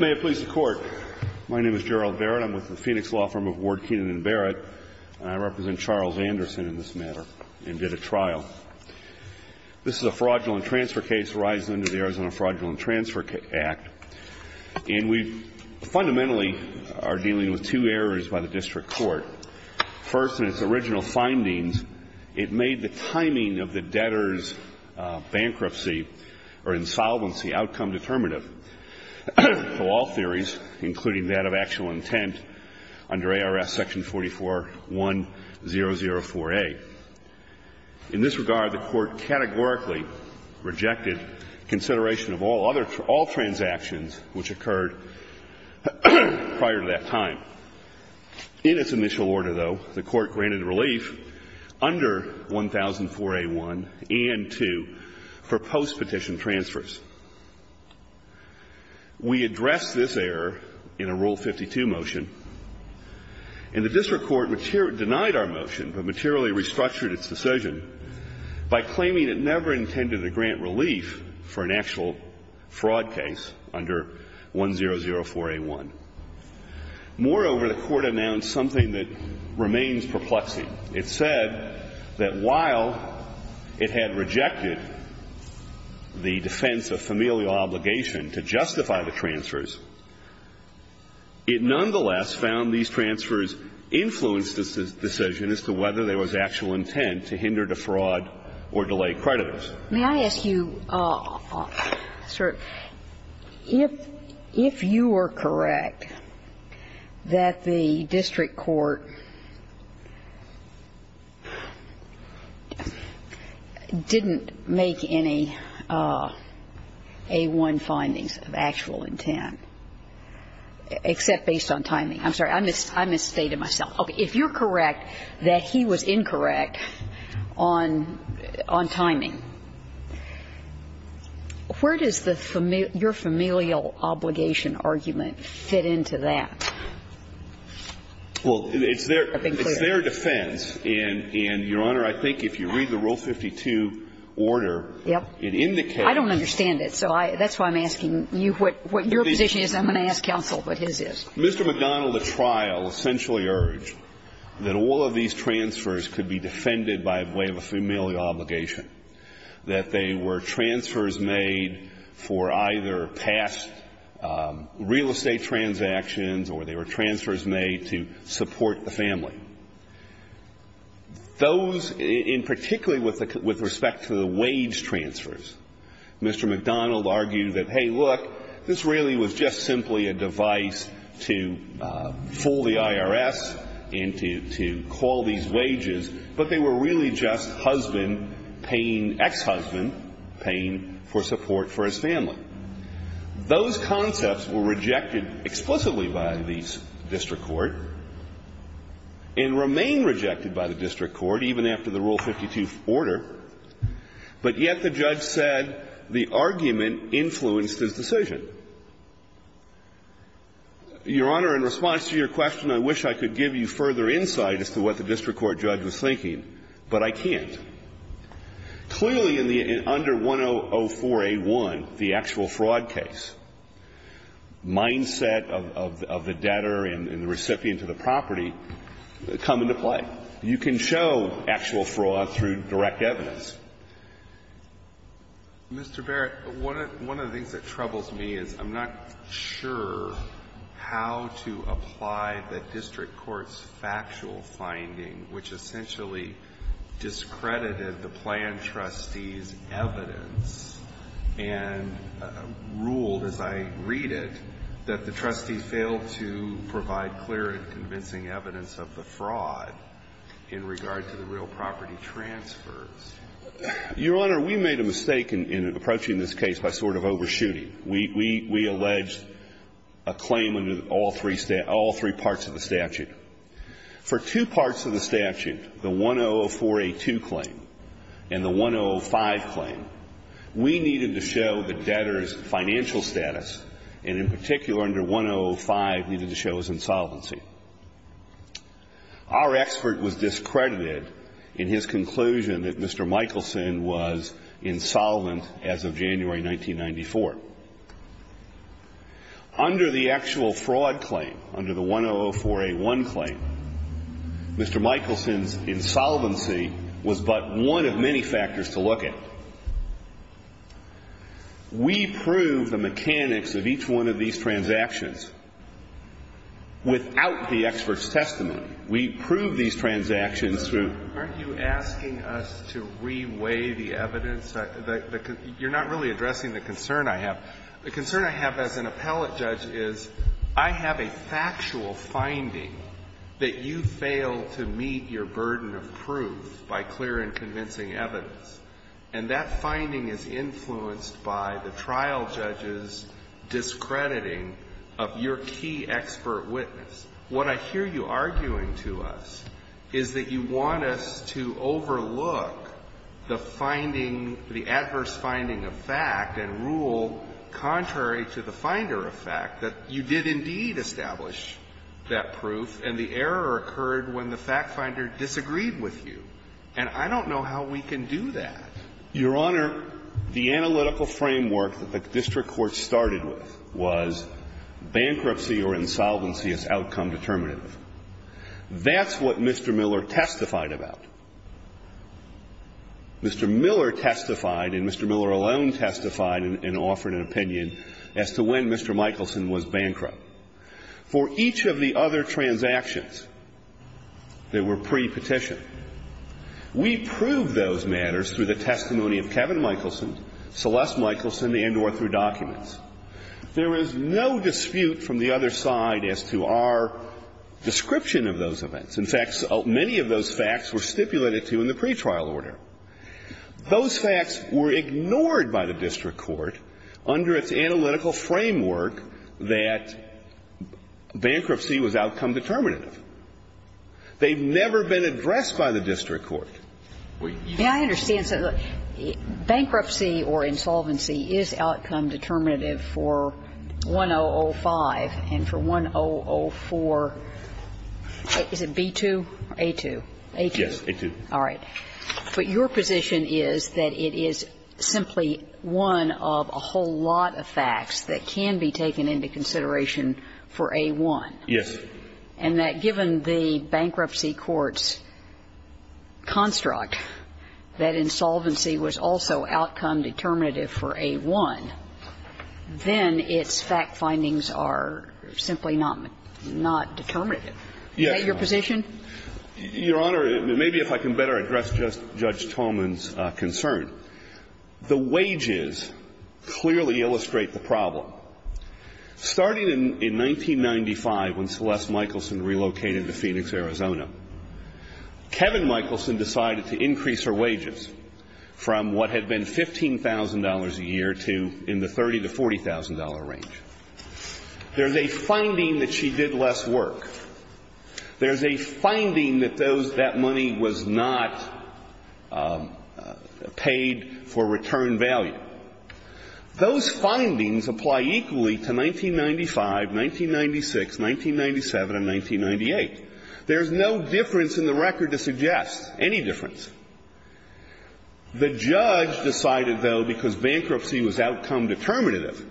May it please the Court. My name is Gerald Barrett. I'm with the Phoenix Law Firm of Ward, Keenan & Barrett, and I represent Charles Anderson in this matter, and did a trial. This is a fraudulent transfer case that arises under the Arizona Fraudulent Transfer Act, and we fundamentally are dealing with two errors by the District Court. First, in its original findings, it made the timing of the debtor's bankruptcy or insolvency outcome determinative to all theories, including that of actual intent, under ARS section 44-1004A. In this regard, the Court categorically rejected consideration of all other – all transactions which occurred prior to that time. In its initial order, though, the Court granted relief under 1004A1 and 2 for postpetition transfers. We addressed this error in a Rule 52 motion, and the District Court denied our motion, but materially restructured its decision by claiming it never intended to grant relief for an actual fraud case under 1004A1. Moreover, the Court announced something that remains perplexing. It said that while it had rejected the defense of familial obligation to justify the transfers, it nonetheless found these transfers influenced this decision as to whether there was actual intent to hinder, defraud, or delay creditors. May I ask you, sir, if you were correct that the District Court didn't make any A1 findings of actual intent, except based on timing? I'm sorry. I misstated myself. Okay. If you're correct that he was incorrect on timing, where does your familial obligation argument fit into that? Well, it's their defense, and, Your Honor, I think if you read the Rule 52 order, it indicates that the District Court didn't make any A1 findings of actual intent. I don't understand it. So that's why I'm asking you what your position is. I'm going to ask counsel what his is. Mr. McDonald, at trial, essentially urged that all of these transfers could be defended by way of a familial obligation, that they were transfers made for either past real estate transactions, or they were transfers made to support the family. Those, and particularly with respect to the wage transfers, Mr. McDonald argued that, hey, look, this really was just simply a device to fool the IRS and to call these wages, but they were really just husband paying ex-husband paying for support for his family. Those concepts were rejected explicitly by the District Court and remain rejected by the District Court, even after the Rule 52 order, but yet the judge said the argument influenced his decision. Your Honor, in response to your question, I wish I could give you further insight as to what the District Court judge was thinking, but I can't. Clearly, in the under 1004A1, the actual fraud case, mindset of the debtor and the recipient to the property come into play. You can show actual fraud through direct evidence. Mr. Barrett, one of the things that troubles me is I'm not sure how to apply the District I mean, I'm not sure that the District Court judge has credited the plan trustee's evidence and ruled, as I read it, that the trustee failed to provide clear and convincing evidence of the fraud in regard to the real property transfers. Your Honor, we made a mistake in approaching this case by sort of overshooting. We alleged a claim under all three parts of the statute. For two parts of the statute, the 1004A2 claim and the 1005 claim, we needed to show the debtor's financial status and, in particular, under 1005, needed to show his insolvency. Our expert was discredited in his conclusion that Mr. Michelson was insolvent as of January 1994. Under the actual fraud claim, under the 1004A1 claim, Mr. Michelson's insolvency was but one of many factors to look at. We proved the mechanics of each one of these transactions without the expert's testimony. We proved these transactions through Aren't you asking us to re-weigh the evidence? You're not really addressing the concern I have. The concern I have as an appellate judge is I have a factual finding that you failed to meet your burden of proof by clear and convincing evidence, and that finding is influenced by the trial judge's discrediting of your key expert witness. What I hear you arguing to us is that you want us to overlook the finding, the adverse finding of fact and rule contrary to the finder of fact, that you did indeed establish that proof and the error occurred when the fact finder disagreed with you. And I don't know how we can do that. Your Honor, the analytical framework that the district court started with was bankruptcy or insolvency as outcome determinative. That's what Mr. Miller testified about. Mr. Miller testified and Mr. Miller alone testified and offered an opinion as to when Mr. Michelson was bankrupt. For each of the other transactions that were pre-petition, we proved those matters through the testimony of Kevin Michelson, Celeste Michelson, and or through documents. There is no dispute from the other side as to our description of those events. In fact, many of those facts were stipulated to in the pretrial order. Those facts were ignored by the district court under its analytical framework that bankruptcy was outcome determinative. They've never been addressed by the district court. Kagan. And I understand, bankruptcy or insolvency is outcome determinative for 1005 and for 1004. Is it B-2 or A-2? A-2. Yes, A-2. All right. But your position is that it is simply one of a whole lot of facts that can be taken into consideration for A-1. Yes. And that given the bankruptcy court's construct that insolvency was also outcome determinative for A-1, then its fact findings are simply not determinative. Yes. Is that your position? Your Honor, maybe if I can better address Judge Tolman's concern. The wages clearly illustrate the problem. Starting in 1995, when Celeste Michelson relocated to Phoenix, Arizona, Kevin Michelson decided to increase her wages from what had been $15,000 a year to in the $30,000 to $40,000 range. There's a finding that she did less work. There's a finding that that money was not paid for return value. Those findings apply equally to 1995, 1996, 1997, and 1998. There's no difference in the record to suggest any difference. The judge decided, though, because bankruptcy was outcome determinative,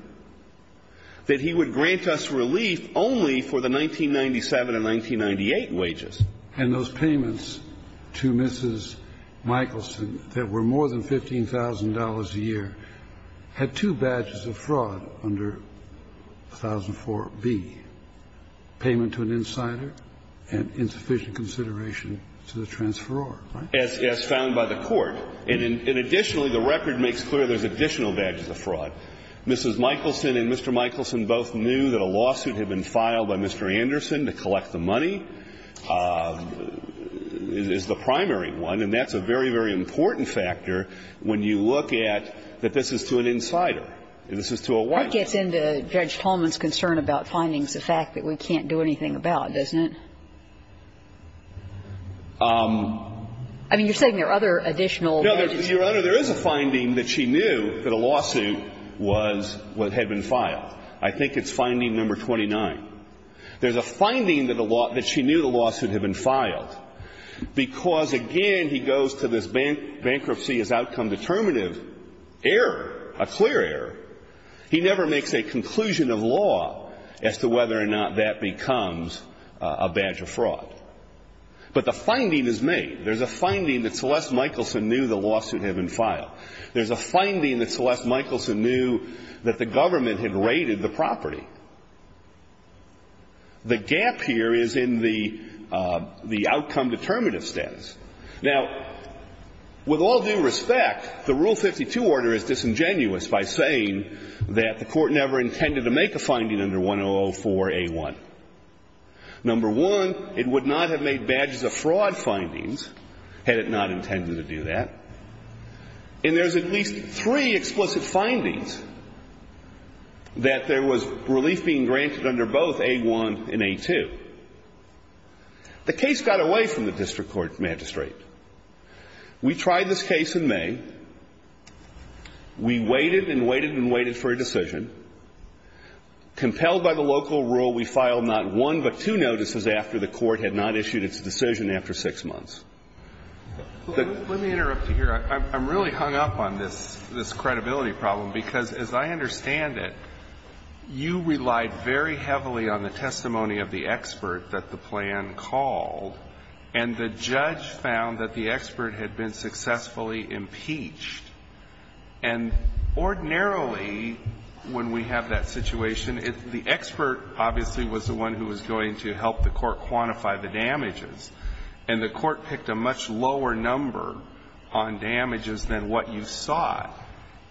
that he would grant us relief only for the 1997 and 1998 wages. And those payments to Mrs. Michelson that were more than $15,000 a year were And the judge, in his decision to grant relief, had two badges of fraud under 1004 B, payment to an insider and insufficient consideration to the transferor, right? As found by the Court. And additionally, the record makes clear there's additional badges of fraud. Mrs. Michelson and Mr. Michelson both knew that a lawsuit had been filed by Mr. This is to an insider. This is to a witness. That gets into Judge Tolman's concern about findings, the fact that we can't do anything about it, doesn't it? I mean, you're saying there are other additional badges. No, Your Honor. There is a finding that she knew that a lawsuit was what had been filed. I think it's finding number 29. There's a finding that she knew the lawsuit had been filed because, again, he goes to this bankruptcy as outcome determinative error, a clear error. He never makes a conclusion of law as to whether or not that becomes a badge of fraud. But the finding is made. There's a finding that Celeste Michelson knew the lawsuit had been filed. There's a finding that Celeste Michelson knew that the government had raided the property. The gap here is in the outcome determinative status. Now, with all due respect, the Rule 52 order is disingenuous by saying that the court never intended to make a finding under 1004A1. Number one, it would not have made badges of fraud findings had it not intended to do that. And there's at least three explicit findings that there was relief being granted under both A1 and A2. The case got away from the district court magistrate. We tried this case in May. We waited and waited and waited for a decision. Compelled by the local rule, we filed not one but two notices after the court had not issued its decision after six months. Let me interrupt you here. I'm really hung up on this credibility problem because, as I understand it, you relied very heavily on the testimony of the expert that the plan called, and the judge found that the expert had been successfully impeached. And ordinarily, when we have that situation, the expert obviously was the one who was going to help the court quantify the damages. And the court picked a much lower number on damages than what you sought.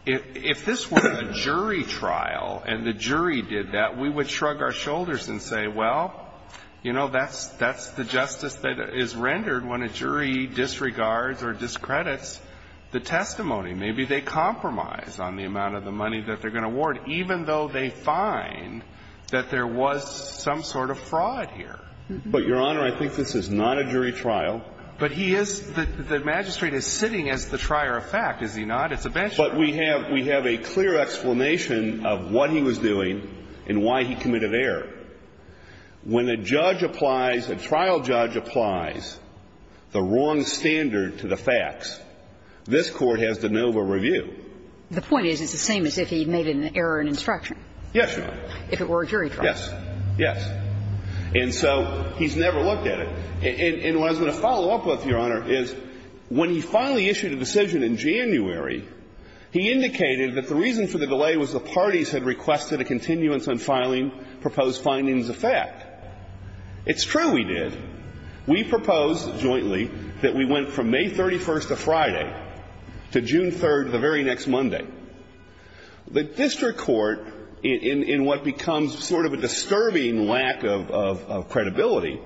If this were a jury trial and the jury did that, we would shrug our shoulders and say, well, you know, that's the justice that is rendered when a jury disregards or discredits the testimony. Maybe they compromise on the amount of the money that they're going to award, even though they find that there was some sort of fraud here. But, Your Honor, I think this is not a jury trial. But he is the magistrate is sitting as the trier of fact, is he not? But we have a clear explanation of what he was doing and why he committed error. When a judge applies, a trial judge applies the wrong standard to the facts, this Court has de novo review. The point is it's the same as if he made an error in instruction. Yes, Your Honor. If it were a jury trial. Yes. Yes. And so he's never looked at it. And what I was going to follow up with, Your Honor, is when he finally issued a decision in January, he indicated that the reason for the delay was the parties had requested a continuance on filing proposed findings of fact. It's true we did. We proposed jointly that we went from May 31st of Friday to June 3rd of the very next Monday. The district court, in what becomes sort of a disturbing lack of credibility,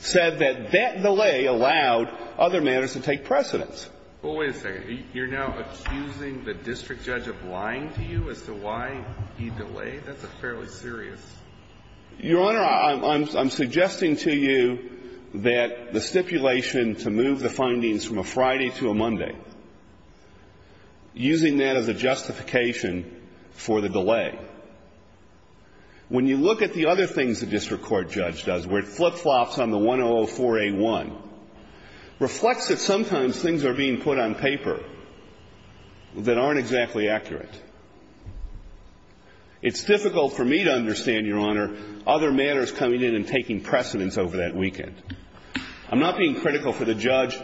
said that that delay allowed other matters to take precedence. Well, wait a second. You're now accusing the district judge of lying to you as to why he delayed? That's a fairly serious. Your Honor, I'm suggesting to you that the stipulation to move the findings from a Friday to a Monday, using that as a justification for the delay. When you look at the other things the district court judge does, where it flip-flops on the 1004A1, reflects that sometimes things are being put on paper that aren't exactly accurate. It's difficult for me to understand, Your Honor, other matters coming in and taking precedence over that weekend. I'm not being critical for the judge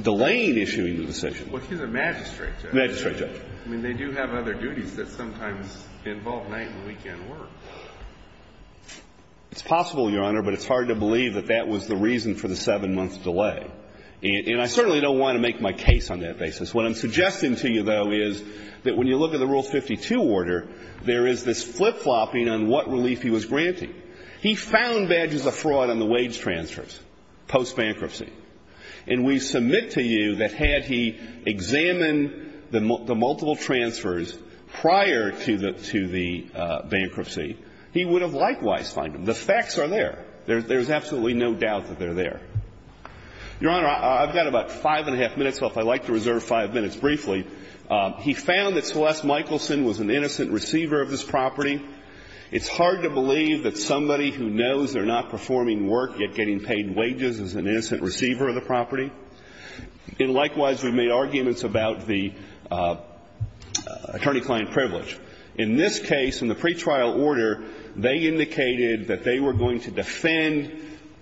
delaying issuing the decision. Well, he's a magistrate judge. Magistrate judge. I mean, they do have other duties that sometimes involve night and weekend work. It's possible, Your Honor, but it's hard to believe that that was the reason for the seven-month delay. And I certainly don't want to make my case on that basis. What I'm suggesting to you, though, is that when you look at the Rule 52 order, there is this flip-flopping on what relief he was granting. He found badges of fraud on the wage transfers post-bankruptcy. And we submit to you that had he examined the multiple transfers prior to the bankruptcy, he would have likewise found them. The facts are there. There's absolutely no doubt that they're there. Your Honor, I've got about five and a half minutes, so if I'd like to reserve five minutes briefly. He found that Celeste Michelson was an innocent receiver of this property. It's hard to believe that somebody who knows they're not performing work yet getting paid wages is an innocent receiver of the property. And likewise, we've made arguments about the attorney-client privilege. In this case, in the pretrial order, they indicated that they were going to defend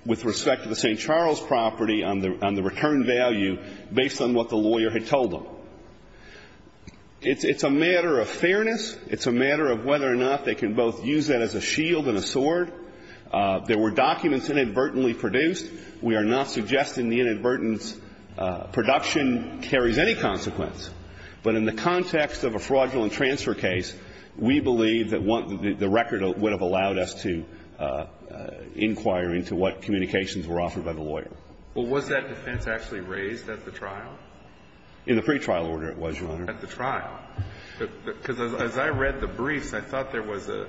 with respect to the St. Charles property on the return value based on what the lawyer had told them. It's a matter of fairness. It's a matter of whether or not they can both use that as a shield and a sword. There were documents inadvertently produced. We are not suggesting the inadvertent production carries any consequence. But in the context of a fraudulent transfer case, we believe that the record would have allowed us to inquire into what communications were offered by the lawyer. Well, was that defense actually raised at the trial? In the pretrial order, it was, Your Honor. At the trial. Because as I read the briefs, I thought there was a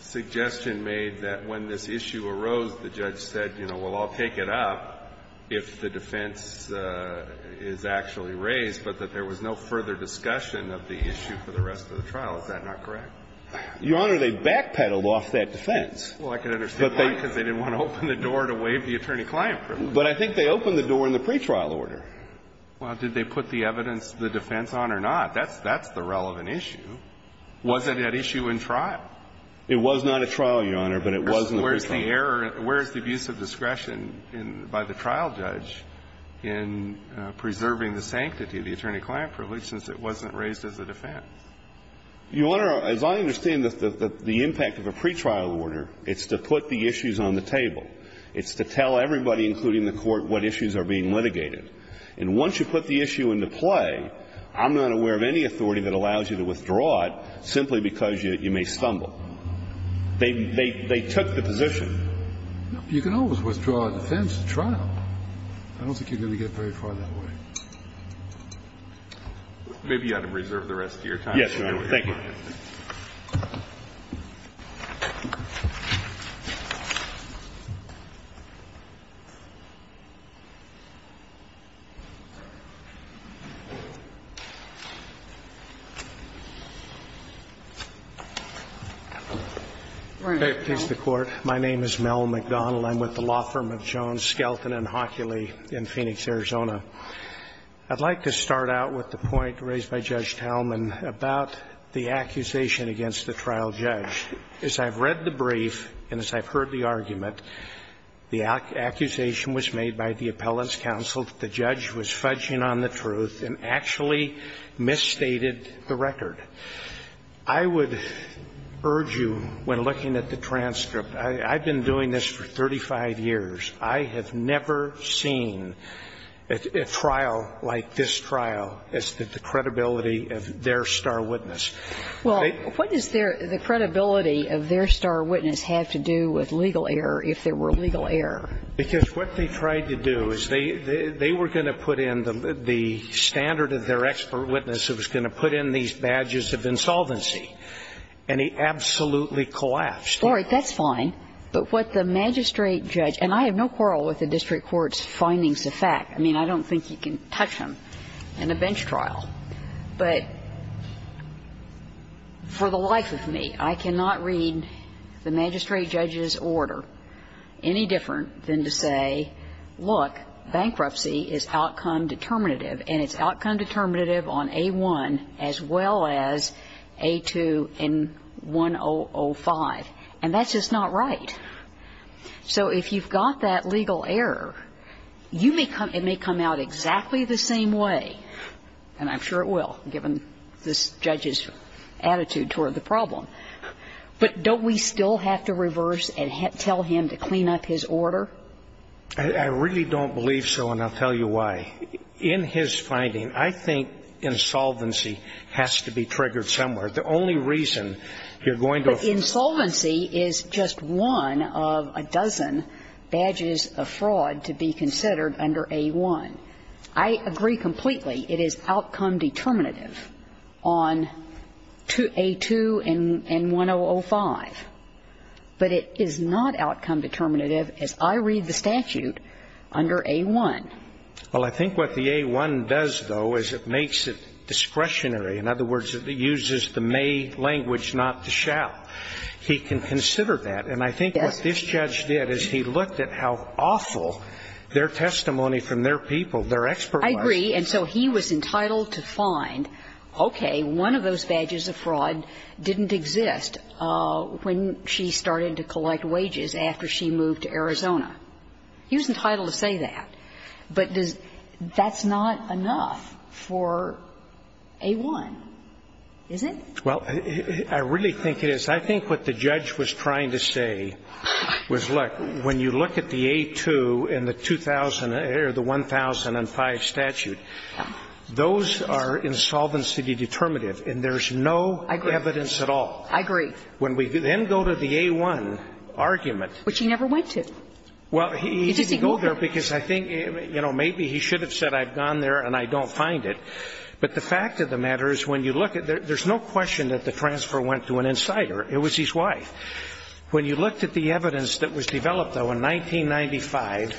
suggestion made that when this issue arose, the judge said, you know, well, I'll take it up if the defense is actually raised, but that there was no further discussion of the issue for the rest of the trial. Is that not correct? Your Honor, they backpedaled off that defense. Well, I can understand why, because they didn't want to open the door to waive the attorney-client privilege. But I think they opened the door in the pretrial order. Well, did they put the evidence of the defense on or not? That's the relevant issue. Was it an issue in trial? It was not a trial, Your Honor, but it was in the pretrial order. Where is the error? Where is the abuse of discretion by the trial judge in preserving the sanctity of the attorney-client privilege since it wasn't raised as a defense? Your Honor, as I understand the impact of a pretrial order, it's to put the issues on the table. It's to tell everybody, including the Court, what issues are being litigated. And once you put the issue into play, I'm not aware of any authority that allows you to withdraw it simply because you may stumble. They took the position. You can always withdraw a defense in trial. I don't think you're going to get very far that way. Maybe you ought to reserve the rest of your time. Yes, Your Honor. Thank you. All right. Please, the Court. My name is Mel McDonald. I'm with the law firm of Jones, Skelton, and Hockeley in Phoenix, Arizona. I'd like to start out with the point raised by Judge Talman about the accusation against the trial judge. As I've read the brief and as I've heard the argument, the accusation was made by the appellant's counsel that the judge was fudging on the truth and actually misstated the record. I would urge you, when looking at the transcript, I've been doing this for 35 years. I have never seen a trial like this trial as to the credibility of their star witness. Well, what does the credibility of their star witness have to do with legal error, if there were legal error? Because what they tried to do is they were going to put in the standard of their expert witness who was going to put in these badges of insolvency, and he absolutely collapsed. All right. That's fine. But what the magistrate judge, and I have no quarrel with the district court's findings of fact. I mean, I don't think you can touch them in a bench trial. But for the life of me, I cannot read the magistrate judge's order any different than to say, look, bankruptcy is outcome determinative, and it's outcome determinative on A1 as well as A2 and 1005. And that's just not right. So if you've got that legal error, it may come out exactly the same way, and I'm sure it will, given this judge's attitude toward the problem. But don't we still have to reverse and tell him to clean up his order? I really don't believe so, and I'll tell you why. In his finding, I think insolvency has to be triggered somewhere. The only reason you're going to ---- But insolvency is just one of a dozen badges of fraud to be considered under A1. I agree completely it is outcome determinative on A2 and 1005, but it is not outcome determinative, as I read the statute, under A1. Well, I think what the A1 does, though, is it makes it discretionary. In other words, it uses the may language, not the shall. He can consider that, and I think what this judge did is he looked at how awful their testimony from their people, their expert was. I agree, and so he was entitled to find, okay, one of those badges of fraud didn't exist when she started to collect wages after she moved to Arizona. He was entitled to say that. But that's not enough for A1, is it? Well, I really think it is. I think what the judge was trying to say was, look, when you look at the A2 and the 1005 statute, those are insolvency determinative, and there's no evidence at all. I agree. When we then go to the A1 argument ---- Which he never went to. Well, he didn't go there because I think, you know, maybe he should have said I've gone there and I don't find it. But the fact of the matter is when you look at it, there's no question that the transfer went to an insider. It was his wife. When you looked at the evidence that was developed, though, in 1995,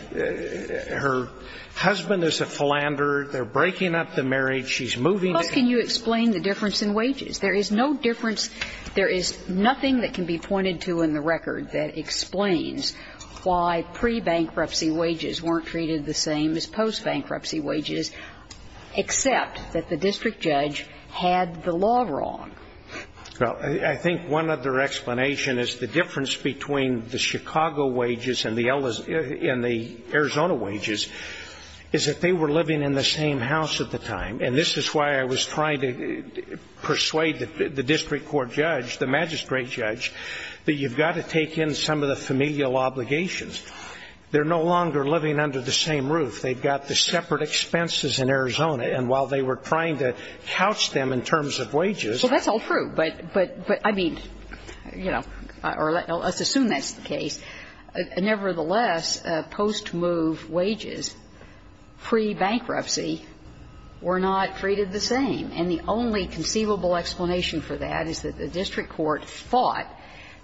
her husband is a philanderer. They're breaking up the marriage. She's moving to ---- Plus, can you explain the difference in wages? There is no difference. There is nothing that can be pointed to in the record that explains why pre-bankruptcy wages weren't treated the same as post-bankruptcy wages, except that the district judge had the law wrong. Well, I think one other explanation is the difference between the Chicago wages and the Arizona wages is that they were living in the same house at the time. And this is why I was trying to persuade the district court judge, the magistrate judge, that you've got to take in some of the familial obligations. They're no longer living under the same roof. They've got the separate expenses in Arizona. And while they were trying to couch them in terms of wages ---- Well, that's all true. But, I mean, you know, or let's assume that's the case. Nevertheless, post-move wages, pre-bankruptcy, were not treated the same. And the only conceivable explanation for that is that the district court thought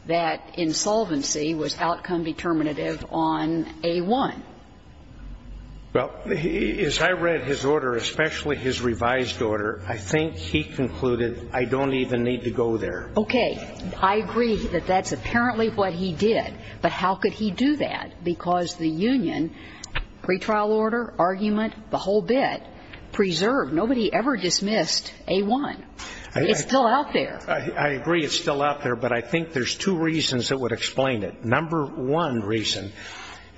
that insolvency was outcome determinative on A-1. Well, as I read his order, especially his revised order, I think he concluded I don't even need to go there. Okay. I agree that that's apparently what he did. But how could he do that? Because the union, pretrial order, argument, the whole bit, preserved. Nobody ever dismissed A-1. It's still out there. I agree it's still out there. But I think there's two reasons that would explain it. Number one reason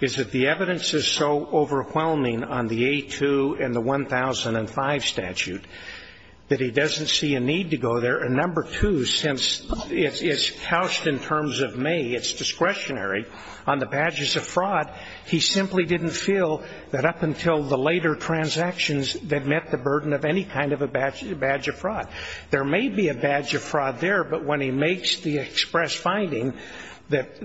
is that the evidence is so overwhelming on the A-2 and the It's couched in terms of may. It's discretionary. On the badges of fraud, he simply didn't feel that up until the later transactions that met the burden of any kind of a badge of fraud. There may be a badge of fraud there. But when he makes the express finding that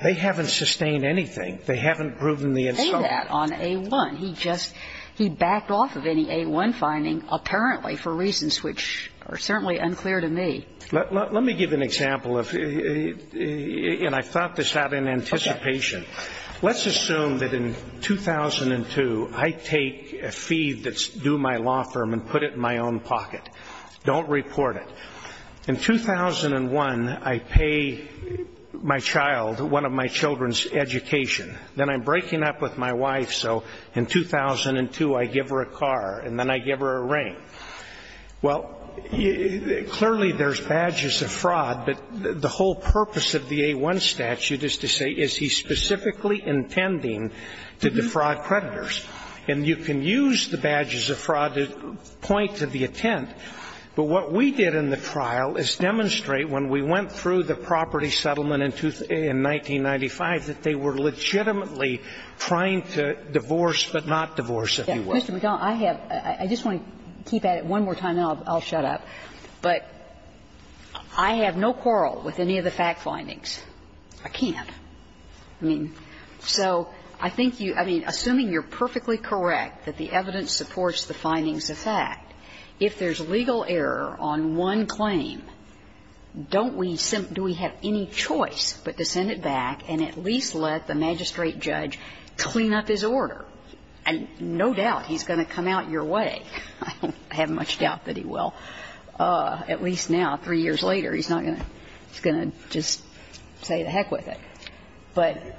they haven't sustained anything, they haven't proven the insolvency. He didn't say that on A-1. He just ---- he backed off of any A-1 finding apparently for reasons which are certainly unclear to me. Let me give an example of ---- and I thought this out in anticipation. Let's assume that in 2002, I take a fee that's due my law firm and put it in my own pocket. Don't report it. In 2001, I pay my child, one of my children's education. Then I'm breaking up with my wife, so in 2002, I give her a car. And then I give her a ring. Well, clearly there's badges of fraud, but the whole purpose of the A-1 statute is to say is he specifically intending to defraud creditors. And you can use the badges of fraud to point to the intent, but what we did in the trial is demonstrate when we went through the property settlement in 1995 that they were legitimately trying to divorce, but not divorce, if you will. I have ---- I just want to keep at it one more time, and then I'll shut up. But I have no quarrel with any of the fact findings. I can't. I mean, so I think you ---- I mean, assuming you're perfectly correct that the evidence supports the findings of fact, if there's legal error on one claim, don't we simply have any choice but to send it back and at least let the magistrate judge clean up his order? And no doubt he's going to come out your way. I don't have much doubt that he will. At least now, three years later, he's not going to ---- he's going to just say the heck with it. But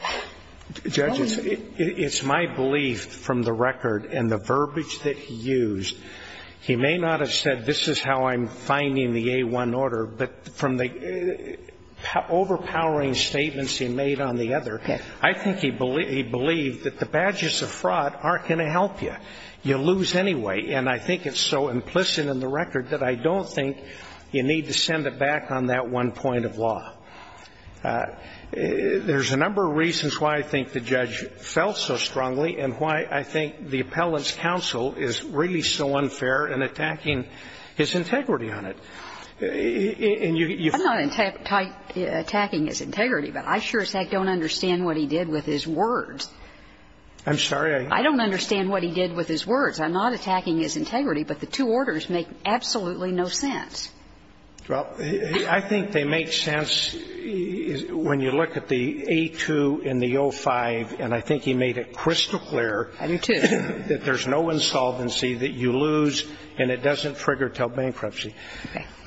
---- Judge, it's my belief from the record and the verbiage that he used, he may not have said this is how I'm finding the A-1 order, but from the overpowering statements he made on the other, I think he believed that the badges of fraud aren't going to help you. You lose anyway. And I think it's so implicit in the record that I don't think you need to send it back on that one point of law. There's a number of reasons why I think the judge fell so strongly and why I think the appellant's counsel is really so unfair in attacking his integrity on it. And you ---- I'm not attacking his integrity, but I sure as heck don't understand what he did with his words. I'm sorry? I don't understand what he did with his words. I'm not attacking his integrity, but the two orders make absolutely no sense. Well, I think they make sense when you look at the A-2 and the O-5, and I think he made it crystal clear that there's no insolvency, that you lose, and it doesn't trigger until bankruptcy.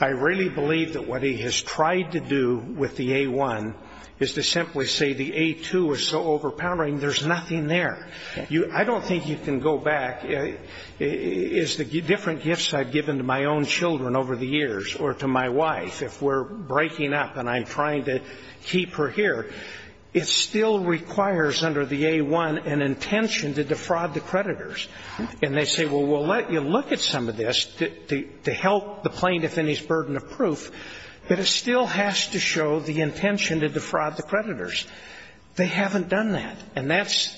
I really believe that what he has tried to do with the A-1 is to simply say the A-2 is so overpowering, there's nothing there. I don't think you can go back. As the different gifts I've given to my own children over the years or to my wife, if we're breaking up and I'm trying to keep her here, it still requires under the A-1 an intention to defraud the creditors. And they say, well, we'll let you look at some of this to help the plaintiff in his burden of proof, but it still has to show the intention to defraud the creditors. They haven't done that, and that's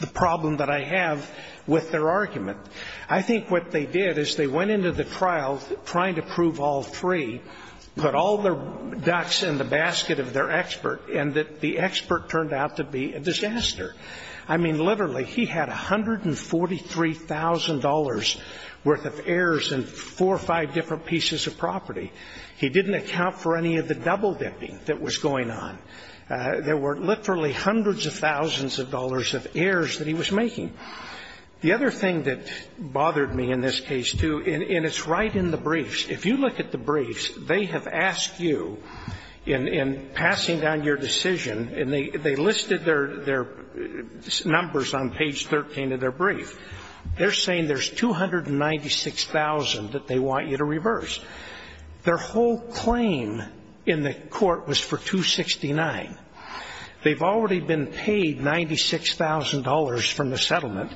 the problem that I have with their argument. I think what they did is they went into the trial trying to prove all three, put all their ducks in the basket of their expert, and the expert turned out to be a disaster. I mean, literally, he had $143,000 worth of errors in four or five different pieces of property. He didn't account for any of the double-dipping that was going on. There were literally hundreds of thousands of dollars of errors that he was making. The other thing that bothered me in this case, too, and it's right in the briefs. If you look at the briefs, they have asked you in passing down your decision, and they listed their numbers on page 13 of their brief. They're saying there's $296,000 that they want you to reverse. Their whole claim in the court was for $269,000. They've already been paid $96,000 from the settlement.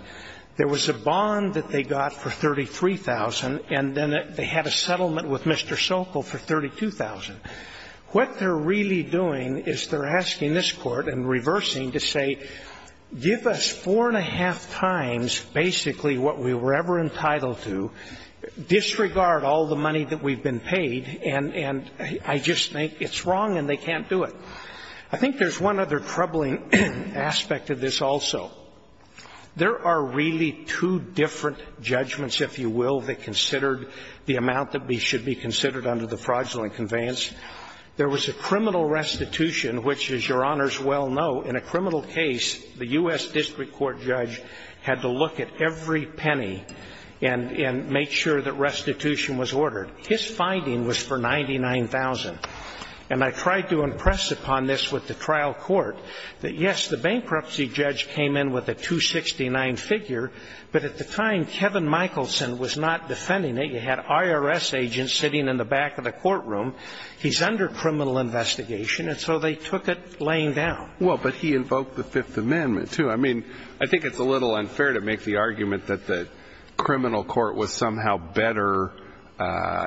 There was a bond that they got for $33,000, and then they had a settlement with Mr. Sokol for $32,000. What they're really doing is they're asking this Court and reversing to say, give us four and a half times basically what we were ever entitled to, disregard all the money that we've been paid, and I just think it's wrong and they can't do it. I think there's one other troubling aspect of this also. There are really two different judgments, if you will, that considered the amount that should be considered under the fraudulent conveyance. There was a criminal restitution, which, as Your Honors well know, in a criminal case, the U.S. District Court judge had to look at every penny and make sure that restitution was ordered. His finding was for $99,000, and I tried to impress upon this with the trial court that, yes, the bankruptcy judge came in with a $269,000 figure, but at the time, Kevin Michelson was not defending it. You had IRS agents sitting in the back of the courtroom. He's under criminal investigation, and so they took it laying down. Well, but he invoked the Fifth Amendment, too. I mean, I think it's a little unfair to make the argument that the criminal court was somehow better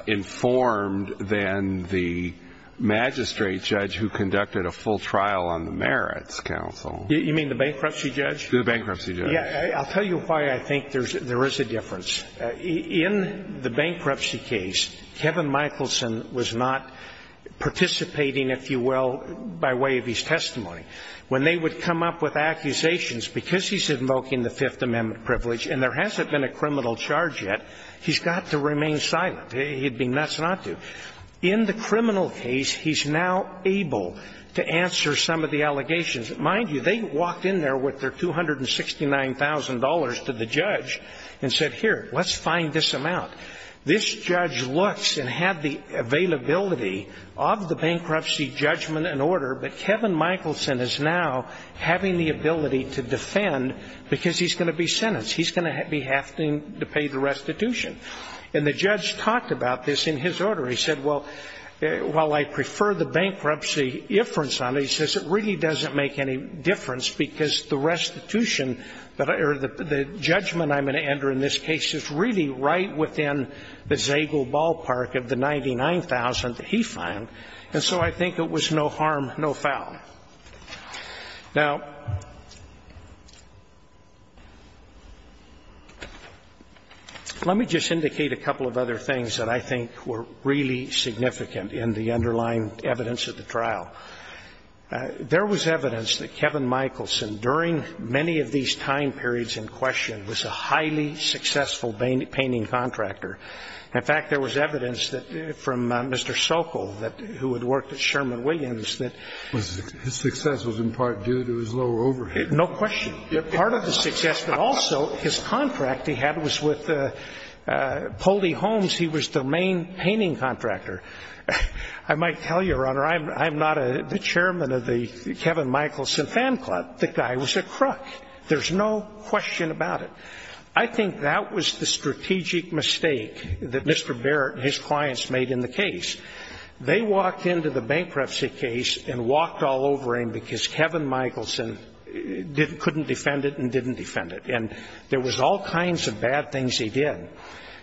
informed than the magistrate judge who conducted a full trial on the Merits Council. You mean the bankruptcy judge? The bankruptcy judge. I'll tell you why I think there is a difference. In the bankruptcy case, Kevin Michelson was not participating, if you will, by way of his testimony. When they would come up with accusations, because he's invoking the Fifth Amendment privilege, and there hasn't been a criminal charge yet, he's got to remain silent. He'd be nuts not to. In the criminal case, he's now able to answer some of the allegations. Mind you, they walked in there with their $269,000 to the judge and said, Here, let's find this amount. This judge looks and had the availability of the bankruptcy judgment and order, but Kevin Michelson is now having the ability to defend because he's going to be sentenced. He's going to be having to pay the restitution. And the judge talked about this in his order. He said, Well, while I prefer the bankruptcy inference on it, he says, It really doesn't make any difference because the restitution or the judgment I'm going to enter in this case is really right within the Zagel ballpark of the $99,000 that he fined. And so I think it was no harm, no foul. Now, let me just indicate a couple of other things that I think were really significant in the underlying evidence of the trial. There was evidence that Kevin Michelson, during many of these time periods in question, was a highly successful painting contractor. In fact, there was evidence from Mr. Sokol, who had worked at Sherman Williams, that his success was in part due to his low overhead. No question. Part of the success, but also his contract he had was with Poldy Homes. He was the main painting contractor. I might tell you, Your Honor, I'm not the chairman of the Kevin Michelson fan club. The guy was a crook. There's no question about it. I think that was the strategic mistake that Mr. Barrett and his clients made in the case. They walked into the bankruptcy case and walked all over him because Kevin Michelson couldn't defend it and didn't defend it. And there was all kinds of bad things he did.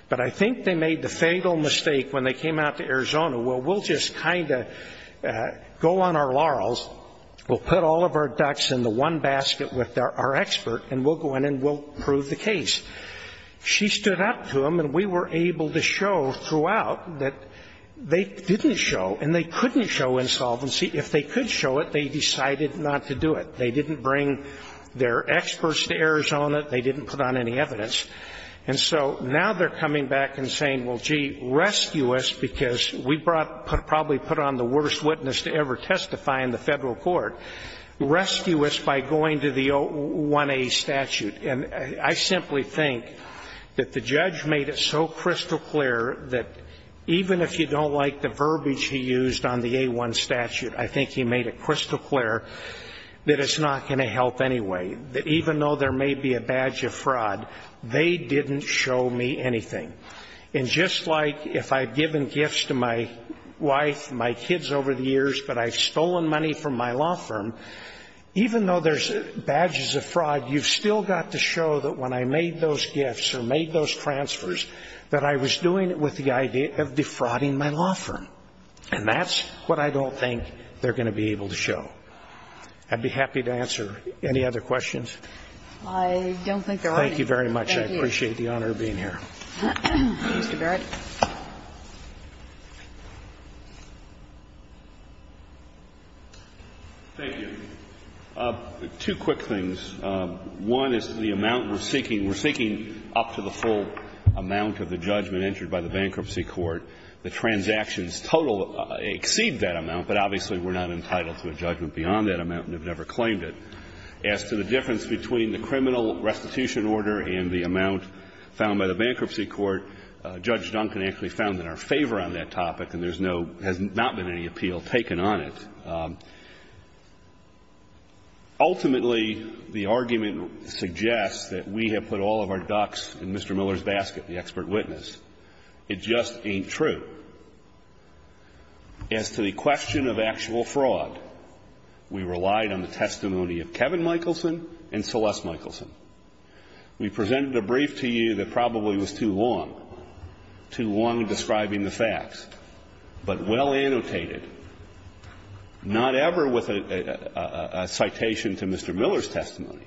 But I think they made the fatal mistake when they came out to Arizona, well, we'll just kind of go on our laurels. We'll put all of our ducks in the one basket with our expert and we'll go in and we'll prove the case. She stood up to him and we were able to show throughout that they didn't show and they couldn't show insolvency. If they could show it, they decided not to do it. They didn't bring their experts to Arizona. They didn't put on any evidence. And so now they're coming back and saying, well, gee, rescue us because we probably put on the worst witness to ever testify in the federal court. Rescue us by going to the 1A statute. And I simply think that the judge made it so crystal clear that even if you don't like the verbiage he used on the A1 statute, I think he made it crystal clear that it's not going to help anyway. Even though there may be a badge of fraud, they didn't show me anything. And just like if I've given gifts to my wife and my kids over the years, but I've stolen money from my law firm, even though there's badges of fraud, you've still got to show that when I made those gifts or made those transfers that I was doing it with the idea of defrauding my law firm. And that's what I don't think they're going to be able to show. I'd be happy to answer any other questions. I don't think there are any. Thank you very much. I appreciate the honor of being here. Mr. Barrett. Thank you. Two quick things. One is the amount we're seeking. We're seeking up to the full amount of the judgment entered by the bankruptcy court. The transactions total exceed that amount, but obviously we're not entitled to a judgment beyond that amount and have never claimed it. As to the difference between the criminal restitution order and the amount found by the bankruptcy court, Judge Duncan actually found in our favor on that topic and there's no, has not been any appeal taken on it. Ultimately, the argument suggests that we have put all of our ducks in Mr. Miller's basket, the expert witness. It just ain't true. As to the question of actual fraud, we relied on the testimony of Kevin Michelson and Celeste Michelson. We presented a brief to you that probably was too long, too long describing the facts, but well annotated, not ever with a citation to Mr. Miller's testimony,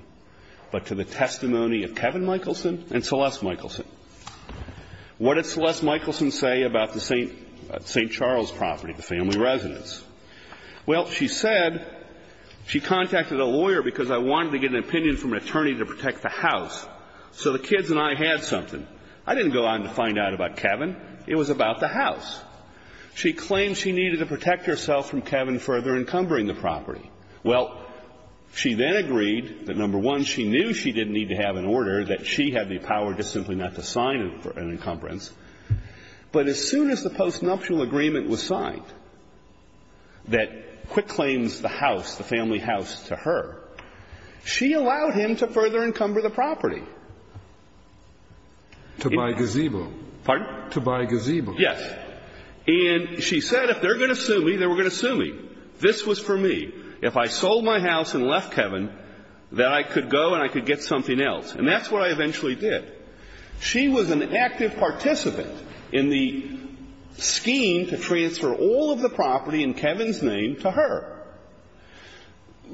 but to the testimony of Kevin Michelson and Celeste Michelson. What did Celeste Michelson say about the St. Charles property, the family residence? Well, she said she contacted a lawyer because I wanted to get an opinion from an attorney to protect the house. So the kids and I had something. I didn't go on to find out about Kevin. It was about the house. She claimed she needed to protect herself from Kevin further encumbering the property. Well, she then agreed that, number one, she knew she didn't need to have an order, that she had the power just simply not to sign it for an encumbrance. But as soon as the postnuptial agreement was signed that Quick claims the house, the family house, to her, she allowed him to further encumber the property. To buy gazebo. Pardon? To buy gazebo. Yes. And she said if they're going to sue me, they were going to sue me. This was for me. If I sold my house and left Kevin, then I could go and I could get something else. And that's what I eventually did. She was an active participant in the scheme to transfer all of the property in Kevin's name to her.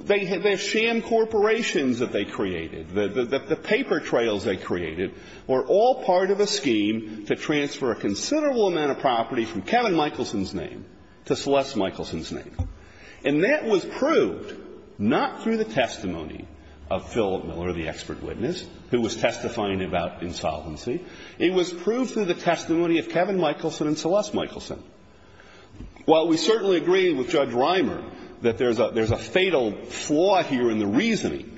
The sham corporations that they created, the paper trails they created were all part of a scheme to transfer a considerable amount of property from Kevin Michelson's name to Celeste Michelson's name. And that was proved not through the testimony of Philip Miller, the expert witness, who was testifying about insolvency. It was proved through the testimony of Kevin Michelson and Celeste Michelson. While we certainly agree with Judge Reimer that there's a fatal flaw here in the reasoning,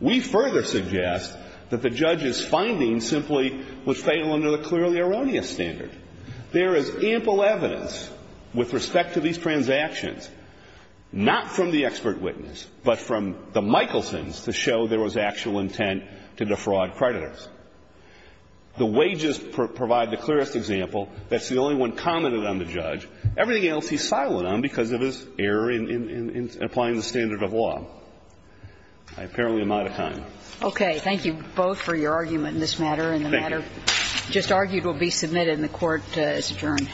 we further suggest that the judge's findings simply was fatal under the clearly erroneous standard. There is ample evidence with respect to these transactions, not from the expert witness, but from the Michelsons to show there was actual intent to defraud creditors. The wages provide the clearest example. That's the only one commented on the judge. Everything else he's silent on because of his error in applying the standard of law. I apparently am out of time. Okay. Thank you both for your argument in this matter. Thank you. And the matter just argued will be submitted and the Court is adjourned.